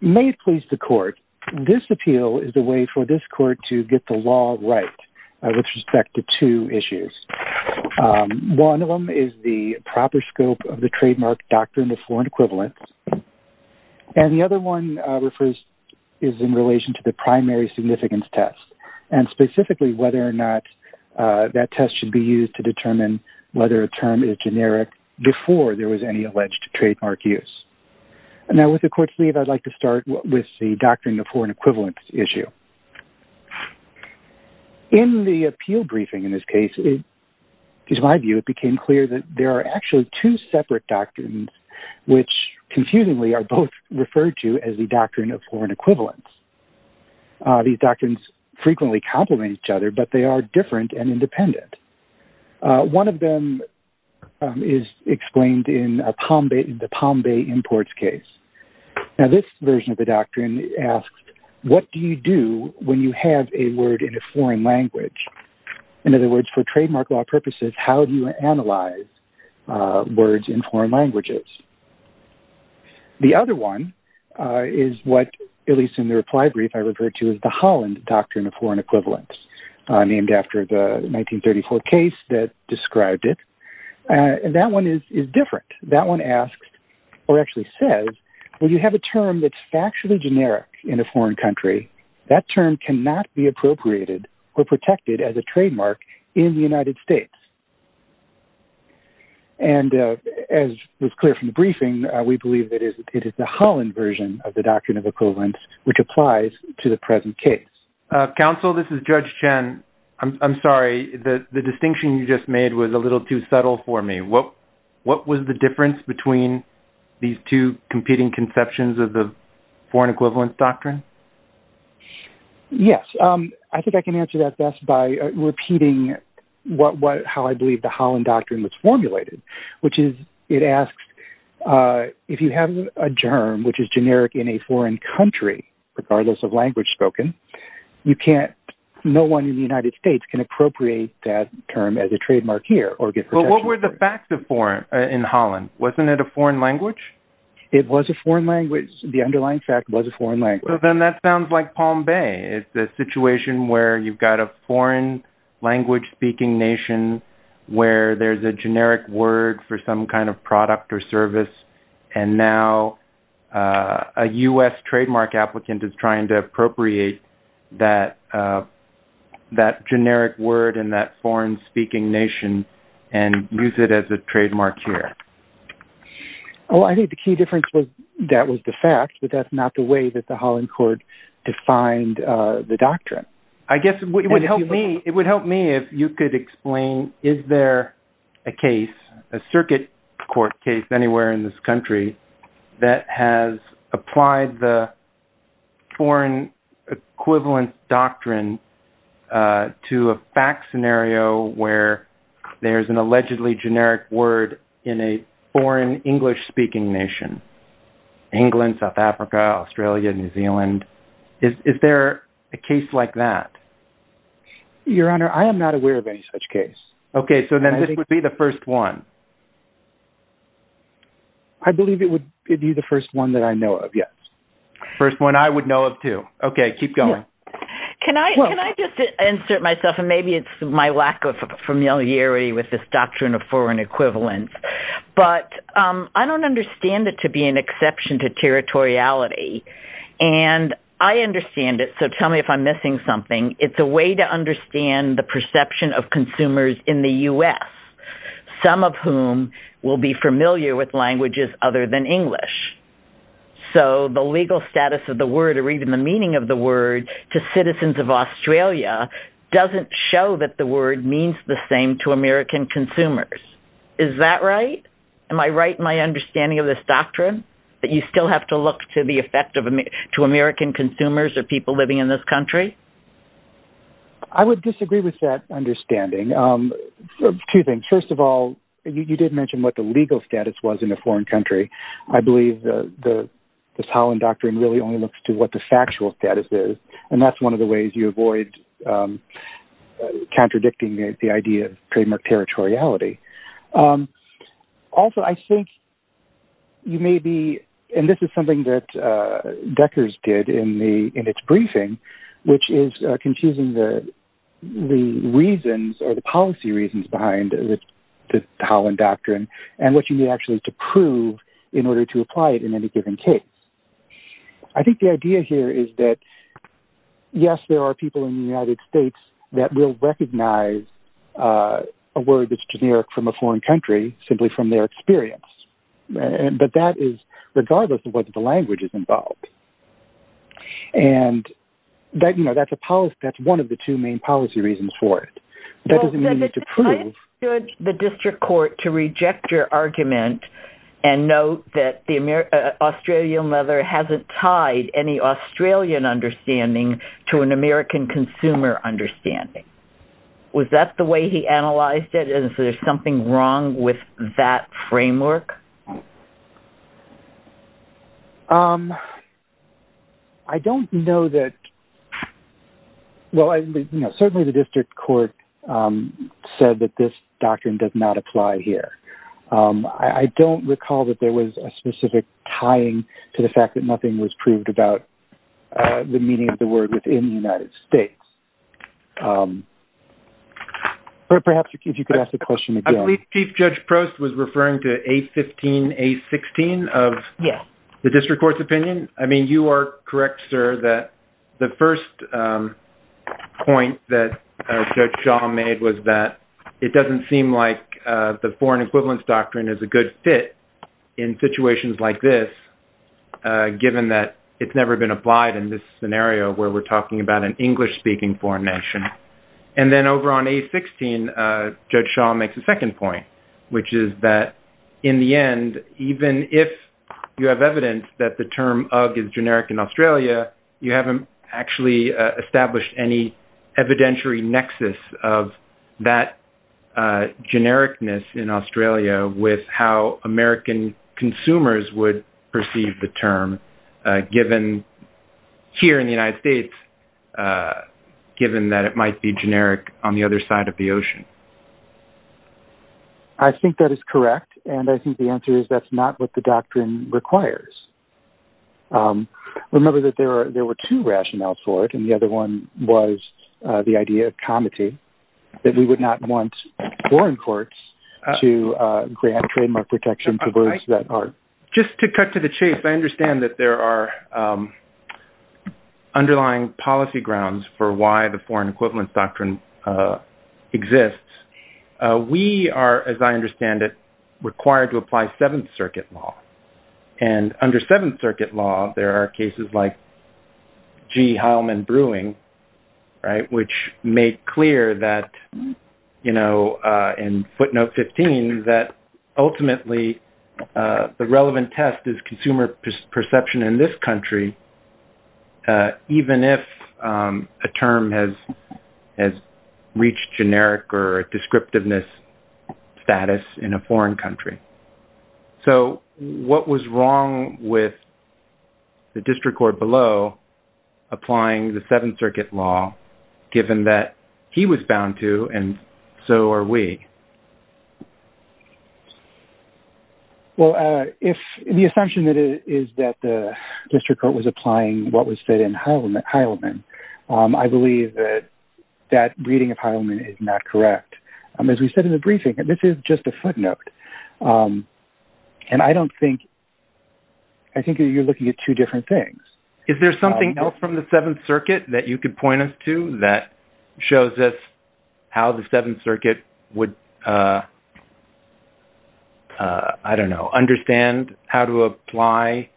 May it please the court, this appeal is the way for this court to get the law right with respect to two issues. One of them is the proper scope of the trademark doctrine of foreign equivalence and the other one is in relation to the primary significance test and specifically whether or not that test should be used to determine whether a term is generic before there was any alleged trademark use. Now with the court's leave, I'd like to start with the doctrine of foreign equivalence issue. In the appeal briefing in this case, in my view, it became clear that there are actually two separate doctrines which confusingly are both referred to as the doctrine of foreign equivalence. These doctrines frequently complement each other but they are different and independent. One of them is explained in the Palm Bay imports case. Now this version of the doctrine asks, what do you do when you have a word in a foreign language? In other words, for trademark law purposes, how do you analyze words in foreign languages? The other one is what, at least in the reply brief, I referred to as the Holland doctrine of foreign equivalence named after the 1934 case that described it and that one is different. That one asks or actually says, when you have a term that's factually generic in a foreign country, that term cannot be appropriated or protected as a trademark in the United States. And as was clear from the briefing, we believe that it is the Holland version of the doctrine of equivalence which applies to the present case. Counsel, this is Judge Chen. I'm sorry, the distinction you just made was a little too subtle for me. What was the difference between these two competing conceptions of the foreign equivalence doctrine? Yes, I think I can answer that best by repeating how I believe the Holland doctrine was formulated, which is it asks, if you have a germ which is generic in a foreign country, regardless of language spoken, no one in the United States can appropriate that term as a trademark here or get protection. But what were the facts in Holland? Wasn't it a foreign language? It was a foreign language. The underlying fact was a foreign language. So then that sounds like Palm Bay. It's a situation where you've got a foreign language speaking nation, where there's a generic word for some kind of product or service, and now a US trademark applicant is trying to appropriate that generic word in that foreign speaking nation and use it as a trademark here. Well, I think the key difference was that was the fact, but that's not the way that the Holland court defined the doctrine. I guess what would help me, it would help me if you could explain, is there a case, a circuit court case anywhere in this country that has applied the foreign equivalence doctrine to a fact scenario where there's an allegedly generic word in a foreign English speaking nation? England, South Africa, Australia, New Zealand. Is there a case like that? Your Honor, I am not aware of any such case. Okay, so then this would be the first one. I believe it would be the first one that I know of. Yes. First one I would know of too. Okay, keep going. Can I just insert myself, and maybe it's my lack of familiarity with this doctrine of foreign equivalence, but I don't understand it to be an exception to territoriality, and I understand it, so tell me if I'm missing something. It's a way to understand the perception of consumers in the US, some of whom will be familiar with languages other than English. So the legal status of the word, or even the meaning of the word to citizens of Australia doesn't show that the word means the same to American consumers. Is that right? Am I right in my understanding of this doctrine, that you still have to look to the effect to American consumers or people living in this country? I would disagree with that understanding, two things. First of all, you did mention what the legal status was in a foreign country. I believe the Holland Doctrine really only looks to what the factual status is, and that's one of the ways you avoid contradicting the idea of trademark territoriality. Also, I think you may be, and this is something that Decker's did in its briefing, which is confusing the reasons or the policy reasons behind the Holland Doctrine, and what you actually need to prove in order to apply it in any given case. I think the idea here is that, yes, there are people in the United States that will recognize a word that's generic from a foreign country simply from their experience. But that is regardless of whether the language is involved. And that's one of the two main policy reasons for it. That doesn't mean you need to prove... How could the district court to reject your argument and note that the Australian mother hasn't tied any Australian understanding to an American consumer understanding? Was that the way he analyzed it, and is there something wrong with that framework? I don't know that... Well, certainly the district court said that this doctrine does not apply here. I don't recall that there was a specific tying to the fact that nothing was proved about the meaning of the word within the United States. Perhaps if you could ask the question again. I believe Chief Judge Prost was referring to A15, A16 of the district court's opinion. I mean, you are correct, sir, that the first point that Judge Shaw made was that it doesn't seem like the foreign equivalence doctrine is a good fit in situations like this, given that it's never been applied in this scenario where we're talking about an English-speaking foreign nation. And then over on A16, Judge Shaw makes a second point, which is that in the end, even if you have evidence that the term UGG is generic in Australia, you haven't actually established any evidentiary nexus of that genericness in Australia with how American consumers would might be generic on the other side of the ocean. I think that is correct. And I think the answer is that's not what the doctrine requires. Remember that there were two rationales for it, and the other one was the idea of comity, that we would not want foreign courts to grant trademark protection to those that are... Just to cut to the chase, I understand that there are underlying policy grounds for why the foreign equivalence doctrine exists. We are, as I understand it, required to apply Seventh Circuit law. And under Seventh Circuit law, there are cases like G. Heilman Brewing, right, which made clear that, you know, in footnote 15, that ultimately the relevant test is consumer perception in this country, even if a term has reached generic or descriptiveness status in a foreign country. So what was wrong with the district court below applying the Seventh Circuit law, given that he was bound to, and so are we? Well, if the assumption is that the district court was applying what was said in Heilman, I believe that that reading of Heilman is not correct. As we said in the briefing, this is just a footnote. And I don't think... I think you're looking at two different things. Is there something else from the Seventh Circuit that you could point us to that shows us how the Seventh Circuit would, I don't know, understand how to apply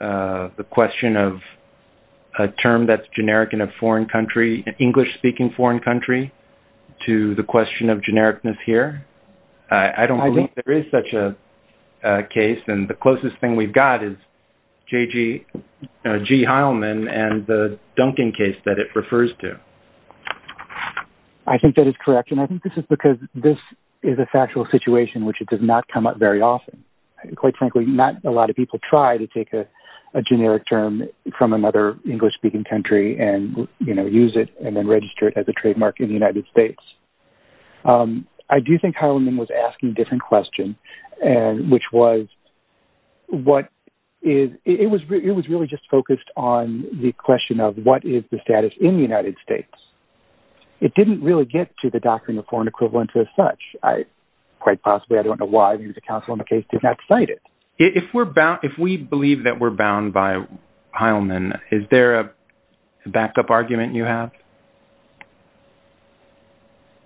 the question of a term that's generic in a foreign country, an English-speaking foreign country, to the question of genericness here? I don't think there is such a case. And the closest thing we've got is G. Heilman and the Duncan case that it refers to. I think that is correct. And I think this is because this is a factual situation which does not come up very often. Quite frankly, not a lot of people try to take a generic term from another English-speaking country and, you know, use it and then register it as a trademark in the United States. I do think Heilman was asking a different question, which was what is... It didn't really get to the doctrine of foreign equivalence as such. Quite possibly. I don't know why the Council on the Case did not cite it. If we're bound... If we believe that we're bound by Heilman, is there a backup argument you have?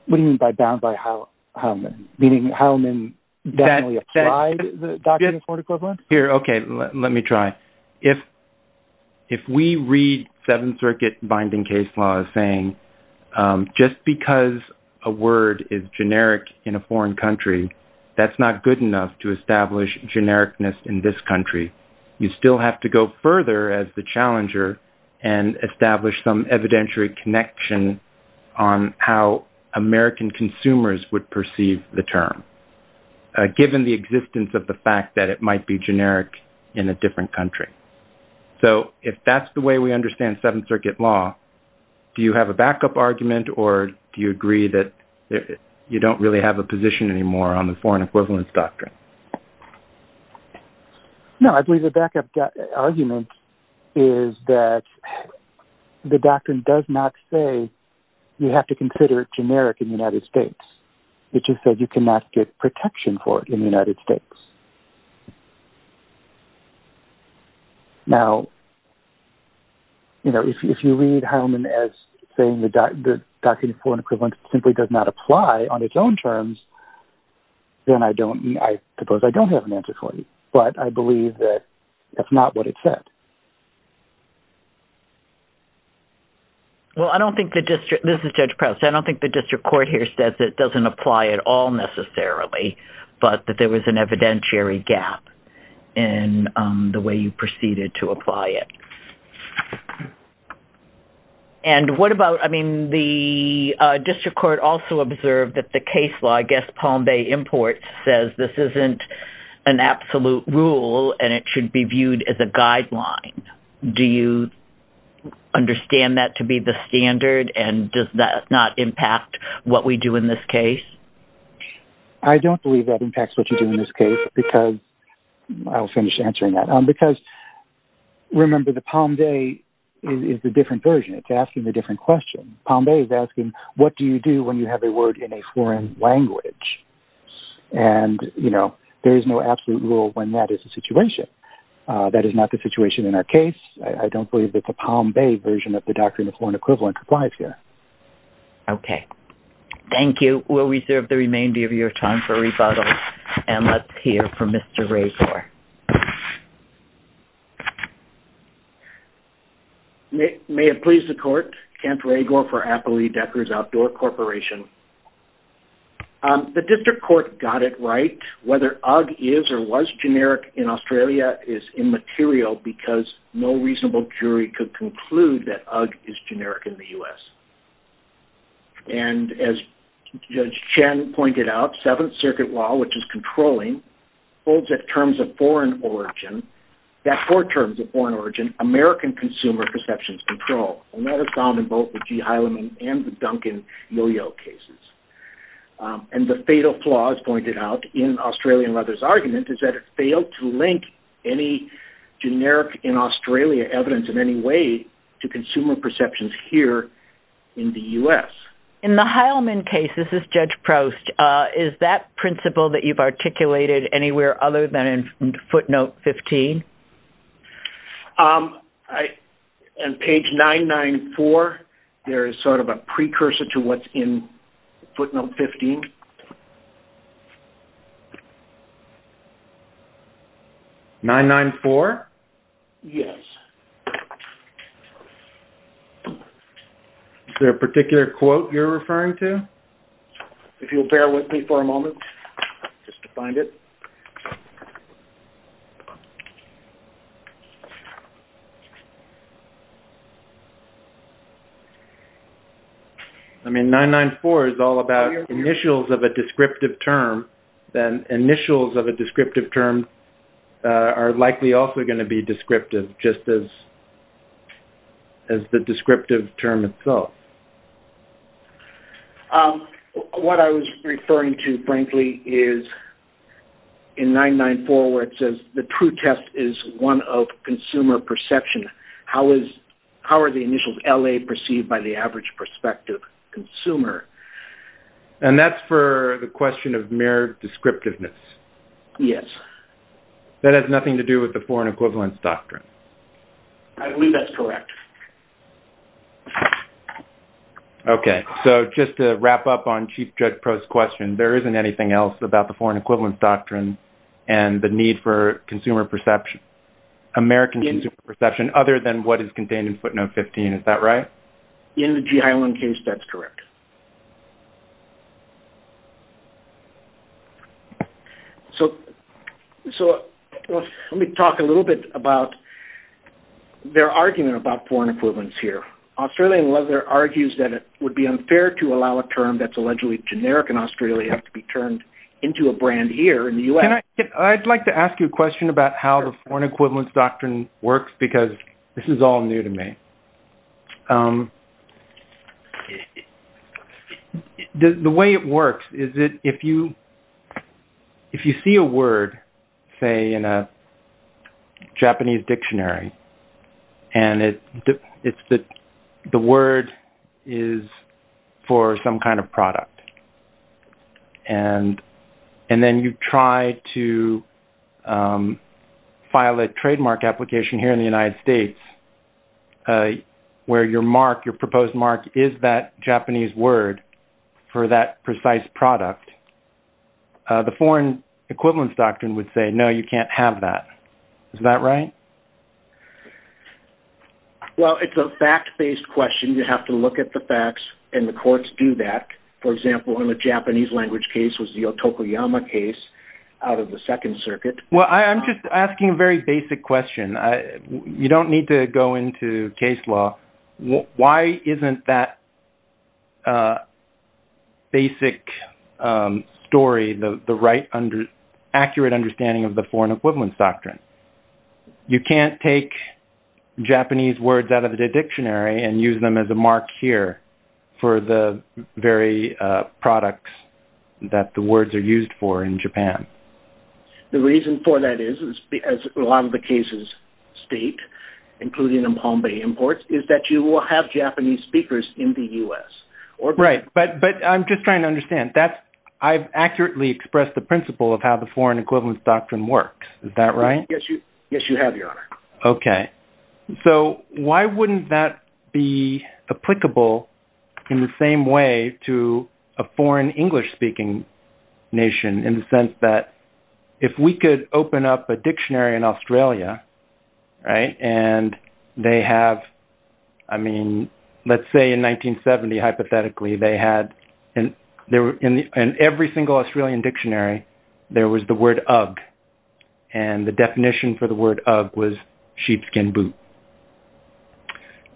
What do you mean by bound by Heilman? Meaning Heilman definitely applied the doctrine of foreign equivalence? Here, okay. Let me try. If we read Seventh Circuit binding case law as saying, just because a word is generic in a foreign country, that's not good enough to establish genericness in this country. You still have to go further as the challenger and establish some evidentiary connection on how American consumers would perceive the term, given the existence of the fact that it might be generic in a different country. So if that's the way we understand Seventh Circuit law, do you have a backup argument or do you agree that you don't really have a position anymore on the foreign equivalence doctrine? No, I believe the backup argument is that the doctrine does not say you have to consider it generic in the United States. It just says you cannot get protection for it in the United States. Now if you read Heilman as saying the doctrine of foreign equivalence simply does not apply on its own terms, then I suppose I don't have an answer for you, but I believe that that's not what it said. Well I don't think the district... This is Judge Prowse. I don't think the district court here says it doesn't apply at all necessarily, but that there was an evidentiary gap in the way you proceeded to apply it. And what about, I mean, the district court also observed that the case law, I guess Palm Bay Imports, says this isn't an absolute rule and it should be viewed as a guideline. Do you understand that to be the standard and does that not impact what we do in this case? I don't believe that impacts what you do in this case because, I'll finish answering that, because remember the Palm Bay is the different version. It's asking the different question. Palm Bay is asking what do you do when you have a word in a foreign language? And you know, there is no absolute rule when that is the situation. That is not the situation in our case. I don't believe that the Palm Bay version of the Doctrine of Foreign Equivalent applies here. Okay. Thank you. We'll reserve the remainder of your time for rebuttals and let's hear from Mr. Ragour. May it please the court, Kent Ragour for Appley Deckers Outdoor Corporation. The district court got it right. Whether UGG is or was generic in Australia is immaterial because no reasonable jury could conclude that UGG is generic in the U.S. And as Judge Chen pointed out, Seventh Circuit law, which is controlling, holds that terms of foreign origin, that four terms of foreign origin, American consumer perceptions control. And that is found in both the G. Heilemann and the Duncan Yo-Yo cases. And the fatal flaw, as pointed out in Australian Leather's argument, is that it failed to link any generic in Australia evidence in any way to consumer perceptions here in the U.S. In the Heilemann case, this is Judge Proust, is that principle that you've articulated anywhere other than in footnote 15? On page 994, there is sort of a precursor to what's in footnote 15. 994? Yes. Is there a particular quote you're referring to? If you'll bear with me for a moment, just to find it. Okay. I mean, 994 is all about initials of a descriptive term, then initials of a descriptive term are likely also going to be descriptive, just as the descriptive term itself. What I was referring to, frankly, is in 994 where it says the true test is one of consumer perception. How are the initials L.A. perceived by the average prospective consumer? And that's for the question of mere descriptiveness? Yes. That has nothing to do with the foreign equivalence doctrine? I believe that's correct. Okay. So, just to wrap up on Chief Judge Proust's question, there isn't anything else about the foreign equivalence doctrine and the need for American consumer perception other than what is contained in footnote 15, is that right? In the G. Heilmann case, that's correct. So, let me talk a little bit about their argument about foreign equivalence here. Australian weather argues that it would be unfair to allow a term that's allegedly generic in Australia to be turned into a brand here in the U.S. I'd like to ask you a question about how the foreign equivalence doctrine works because this is all new to me. The way it works is that if you see a word, say, in a Japanese dictionary, and the word is for some kind of product, and then you try to file a trademark application here in the United States where your mark, your proposed mark, is that Japanese word for that precise product, the foreign equivalence doctrine would say, no, you can't have that. Is that right? Well, it's a fact-based question. You have to look at the facts, and the courts do that. For example, in the Japanese language case was the Otokoyama case out of the Second Circuit. Well, I'm just asking a very basic question. You don't need to go into case law. Why isn't that basic story the right, accurate understanding of the foreign equivalence doctrine? You can't take Japanese words out of the dictionary and use them as a mark here for the very products that the words are used for in Japan. The reason for that is, as a lot of the cases state, including the Bombay imports, is that you will have Japanese speakers in the U.S. Right, but I'm just trying to understand. I've accurately expressed the principle of how the foreign equivalence doctrine works. Yes, you have, Your Honor. Okay, so why wouldn't that be applicable in the same way to a foreign English-speaking nation in the sense that if we could open up a dictionary in Australia, right, and they have, I mean, let's say in 1970, hypothetically, they had, in every single Australian dictionary, there was the word UGG, and the definition for the word UGG was sheepskin boot.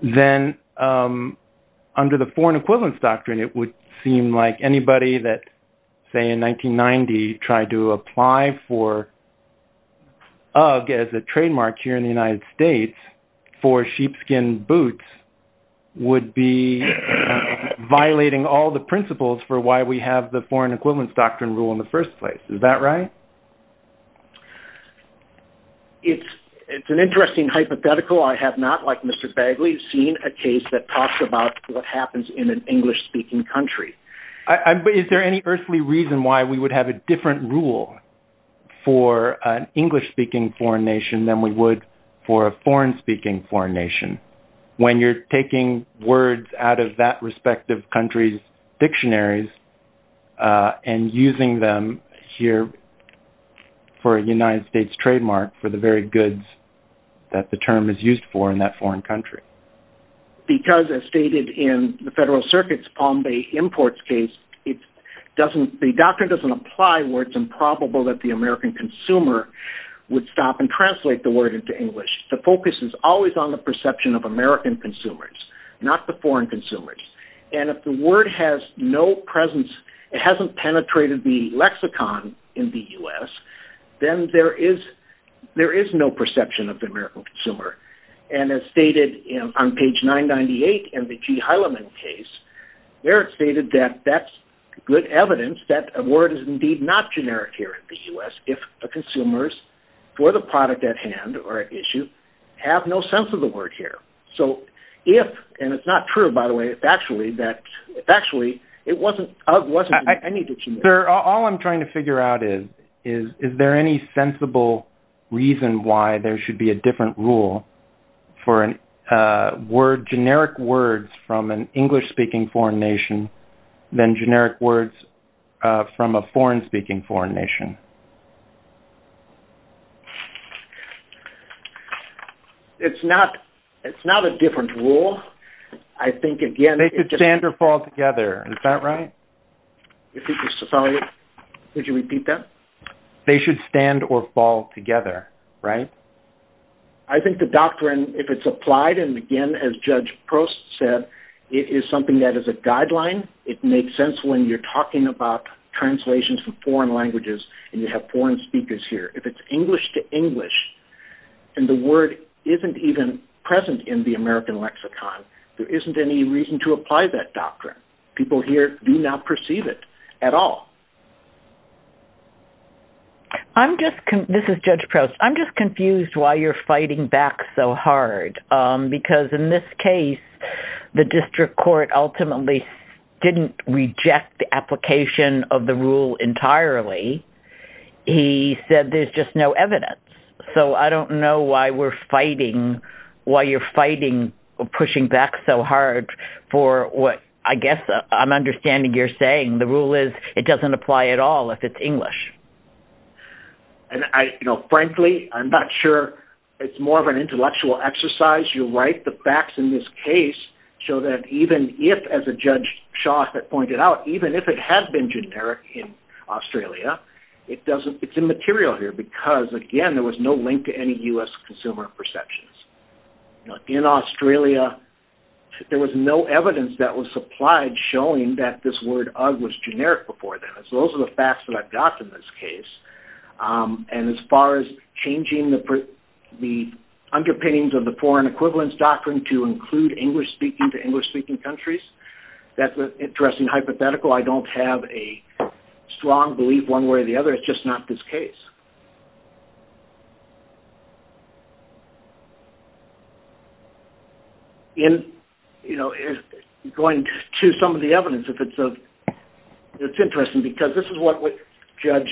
Then, under the foreign equivalence doctrine, it would seem like anybody that, say in 1990, tried to apply for UGG as a trademark here in the United States for sheepskin boots would be violating all the principles for why we have the foreign equivalence doctrine rule in the first place. Is that right? It's an interesting hypothetical. I have not, like Mr. Bagley, seen a case that talks about what happens in an English-speaking country. Is there any earthly reason why we would have a different rule for an English-speaking foreign nation than we would for a foreign-speaking foreign nation? When you're taking words out of that respective country's dictionaries and using them here for a United States trademark for the very goods that the term is used for in that foreign country. Because as stated in the Federal Circuit's Palm Bay Imports case, the doctrine doesn't apply where it's improbable that the American consumer would stop and translate the word into English. The focus is always on the perception of American consumers, not the foreign consumers. And if the word has no presence, it hasn't penetrated the lexicon in the U.S., then there is no perception of the American consumer. And as stated on page 998 in the G. Heileman case, there it's stated that that's good evidence that a word is indeed not generic here in the U.S. if the consumers for the product at hand or at issue have no sense of the word here. So if, and it's not true by the way, it's actually that it wasn't... Sir, all I'm trying to figure out is, is there any sensible reason why there should be a different rule for generic words from an English-speaking foreign nation than generic words from a foreign-speaking foreign nation? It's not, it's not a different rule. I think again... They should stand or fall together. Is that right? Sorry, could you repeat that? They should stand or fall together, right? I think the doctrine, if it's applied, and again, as Judge Prost said, it is something that is a guideline. It makes sense when you're talking about translations from foreign languages and you have foreign speakers here. If it's English to English and the word isn't even present in the American lexicon, there isn't any reason to apply that doctrine. People here do not perceive it at all. I'm just, this is Judge Prost, I'm just confused why you're fighting back so hard because in this case, the district court ultimately didn't reject the application of the rule entirely. He said there's just no evidence. So I don't know why we're fighting, why you're fighting or pushing back so hard for what I guess I'm understanding you're saying. The rule is it doesn't apply at all if it's English. And frankly, I'm not sure it's more of an intellectual exercise. You're right, the facts in this case show that even if, as Judge Shaw pointed out, even if it had been generic in Australia, it's immaterial here because again, there was no link to any U.S. consumer perceptions. In Australia, there was no evidence that was supplied showing that this word was generic before then. So those are the facts that I've got in this case. And as far as changing the underpinnings of the foreign equivalence doctrine to include English-speaking to English-speaking countries, that's an interesting hypothetical. I don't have a strong belief one way or the other. It's just not this case. Going to some of the evidence, it's interesting because this is what Judge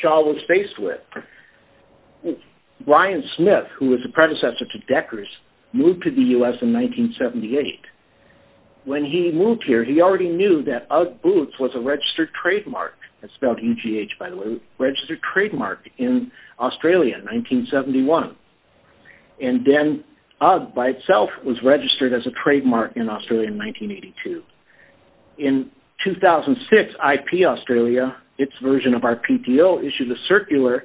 Shaw was faced with. Brian Smith, who was a predecessor to Deckers, moved to the U.S. in 1978. When he moved here, he already knew that Ugg Boots was a registered trademark. That's spelled U-G-H, by the way, registered trademark. Ugg Boots was a registered trademark in Australia in 1971. And then Ugg by itself was registered as a trademark in Australia in 1982. In 2006, IP Australia, its version of RPTO, issued a circular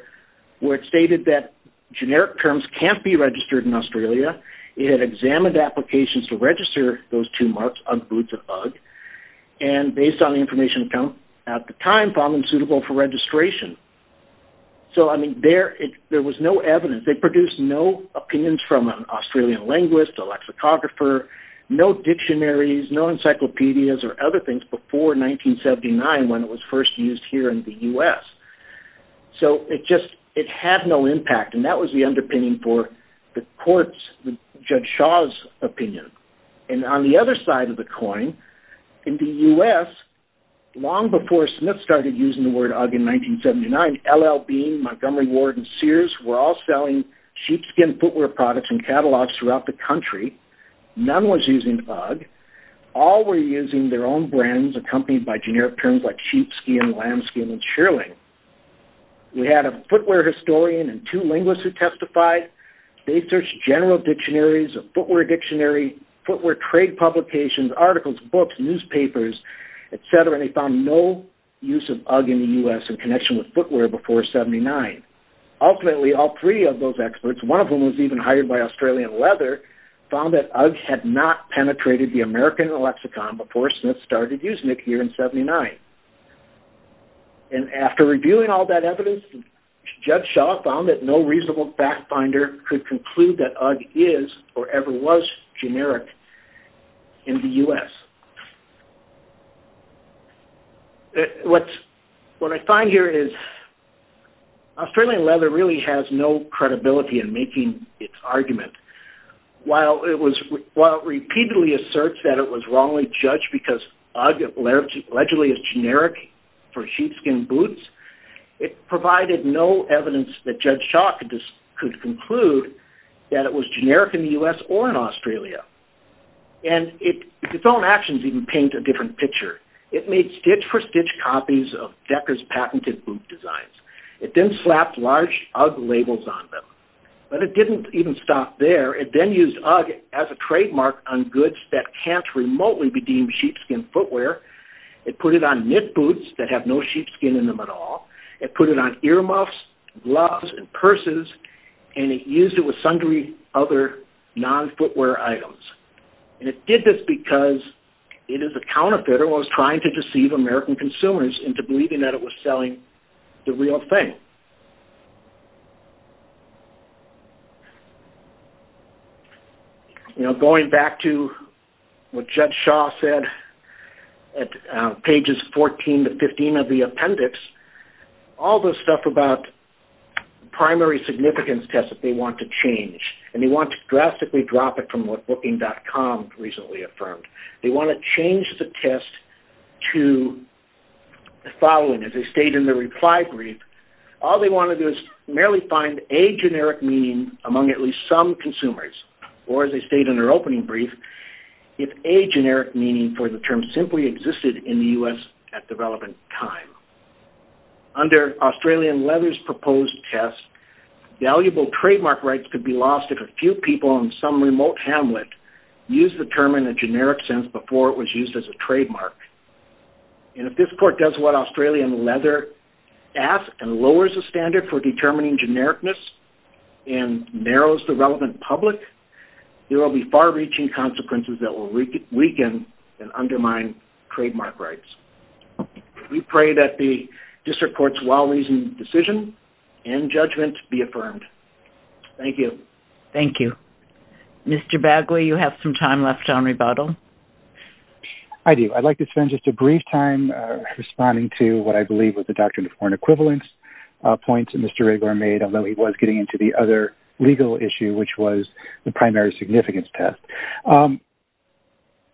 where it stated that generic terms can't be registered in Australia. It had examined applications to register those two marks, Ugg Boots and Ugg. And based on the information at the time, found them suitable for registration. So, I mean, there was no evidence. They produced no opinions from an Australian linguist, a lexicographer, no dictionaries, no encyclopedias or other things before 1979 when it was first used here in the U.S. So, it just, it had no impact. And that was the underpinning for the court's, Judge Shaw's opinion. And on the other side of the coin, in the U.S., long before Smith started using the word Ugg in 1979, L.L. Bean, Montgomery Ward, and Sears were all selling sheepskin footwear products in catalogs throughout the country. None was using Ugg. All were using their own brands accompanied by generic terms like sheepskin, lambskin, and shearling. We had a footwear historian and two linguists who testified. They searched general dictionaries, a footwear dictionary, footwear trade publications, articles, books, newspapers, et cetera, and they found no use of Ugg in the U.S. in connection with footwear before 79. Ultimately, all three of those experts, one of whom was even hired by Australian Leather, found that Ugg had not penetrated the American lexicon before Smith started using it here in 79. And after reviewing all that evidence, Judge Shaw found that no reasonable back finder could conclude that Ugg is or ever was generic in the U.S. What I find here is Australian Leather really has no credibility in making its argument. While it repeatedly asserts that it was wrongly judged because Ugg allegedly is generic for sheepskin boots, it provided no evidence that Judge Shaw could conclude that it was generic in the U.S. or in Australia. And its own actions even paint a different picture. It made stitch-for-stitch copies of Decker's patented boot designs. It then slapped large Ugg labels on them. But it didn't even stop there. It then used Ugg as a trademark on goods that can't remotely be deemed sheepskin footwear. It put it on knit boots that have no sheepskin in them at all. It put it on earmuffs, gloves, and purses. And it used it with sundry other non-footwear items. And it did this because it is a counterfeiter. It was trying to deceive American consumers into believing that it was selling the real thing. Going back to what Judge Shaw said at pages 14 to 15 of the appendix, all this stuff about primary significance tests that they want to change, and they want to drastically drop it from what Booking.com recently affirmed. They want to change the test to the following. As they state in the reply brief, all they want to do is merely find a generic meaning among at least some consumers, or as they state in their opening brief, if a generic meaning for the term simply existed in the U.S. at the relevant time. Under Australian leather's proposed test, valuable trademark rights could be lost if a few people on some remote hamlet used the term in a generic sense before it was used as a trademark. And if this court does what Australian leather asks and lowers the standard for determining genericness and narrows the relevant public, there will be far-reaching consequences that will weaken and undermine trademark rights. We pray that the district court's well-reasoned decision and judgment be affirmed. Thank you. Thank you. Mr. Bagley, you have some time left on rebuttal. I do. I'd like to spend just a brief time responding to what I believe was the doctrine of foreign equivalence points that Mr. Riggler made, although he was getting into the other legal issue, which was the primary significance test.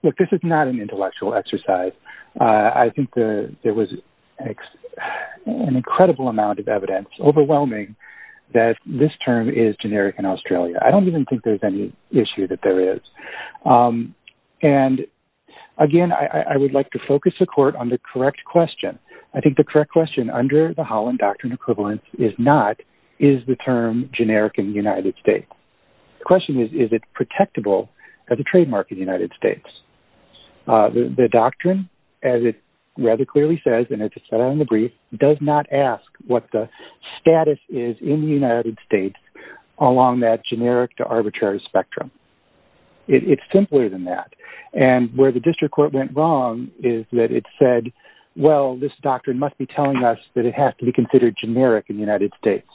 Look, this is not an intellectual exercise. I think there was an incredible amount of evidence, overwhelming, that this term is generic in Australia. I don't even think there's any issue that there is. And, again, I would like to focus the court on the correct question. I think the correct question under the Holland Doctrine of equivalence is not, is the term generic in the United States? The question is, is it protectable as a trademark in the United States? The doctrine, as it rather clearly says, and it's set out in the brief, does not ask what the status is in the United States along that generic to arbitrary spectrum. It's simpler than that. And where the district court went wrong is that it said, well, this doctrine must be telling us that it has to be considered generic in the United States,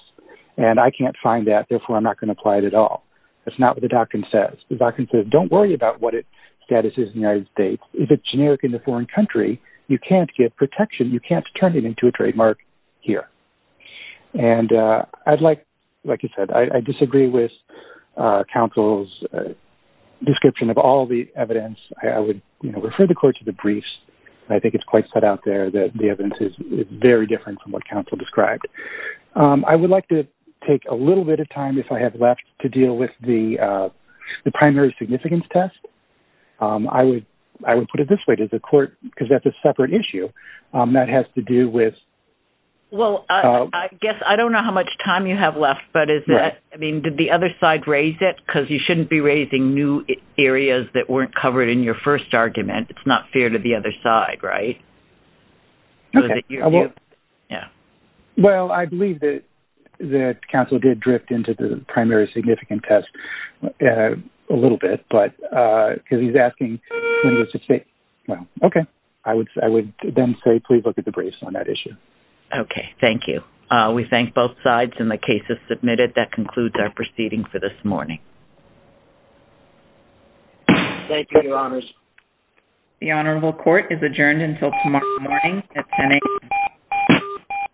and I can't find that, therefore I'm not going to apply it at all. That's not what the doctrine says. The doctrine says don't worry about what its status is in the United States. If it's generic in a foreign country, you can't get protection, you can't turn it into a trademark here. And I'd like, like you said, I disagree with counsel's description of all the evidence. I would refer the court to the briefs. I think it's quite set out there that the evidence is very different from what counsel described. I would like to take a little bit of time, if I have left, to deal with the primary significance test. I would put it this way to the court, because that's a separate issue that has to do with. Well, I guess I don't know how much time you have left, but is that, I mean, did the other side raise it? Because you shouldn't be raising new areas that weren't covered in your first argument. It's not fair to the other side, right? Okay. Yeah. Well, I believe that counsel did drift into the primary significance test a little bit, because he's asking when he was to state. Well, okay. I would then say please look at the briefs on that issue. Okay. Thank you. We thank both sides, and the case is submitted. That concludes our proceeding for this morning. Thank you, Your Honors. The Honorable Court is adjourned until tomorrow morning at 10 a.m.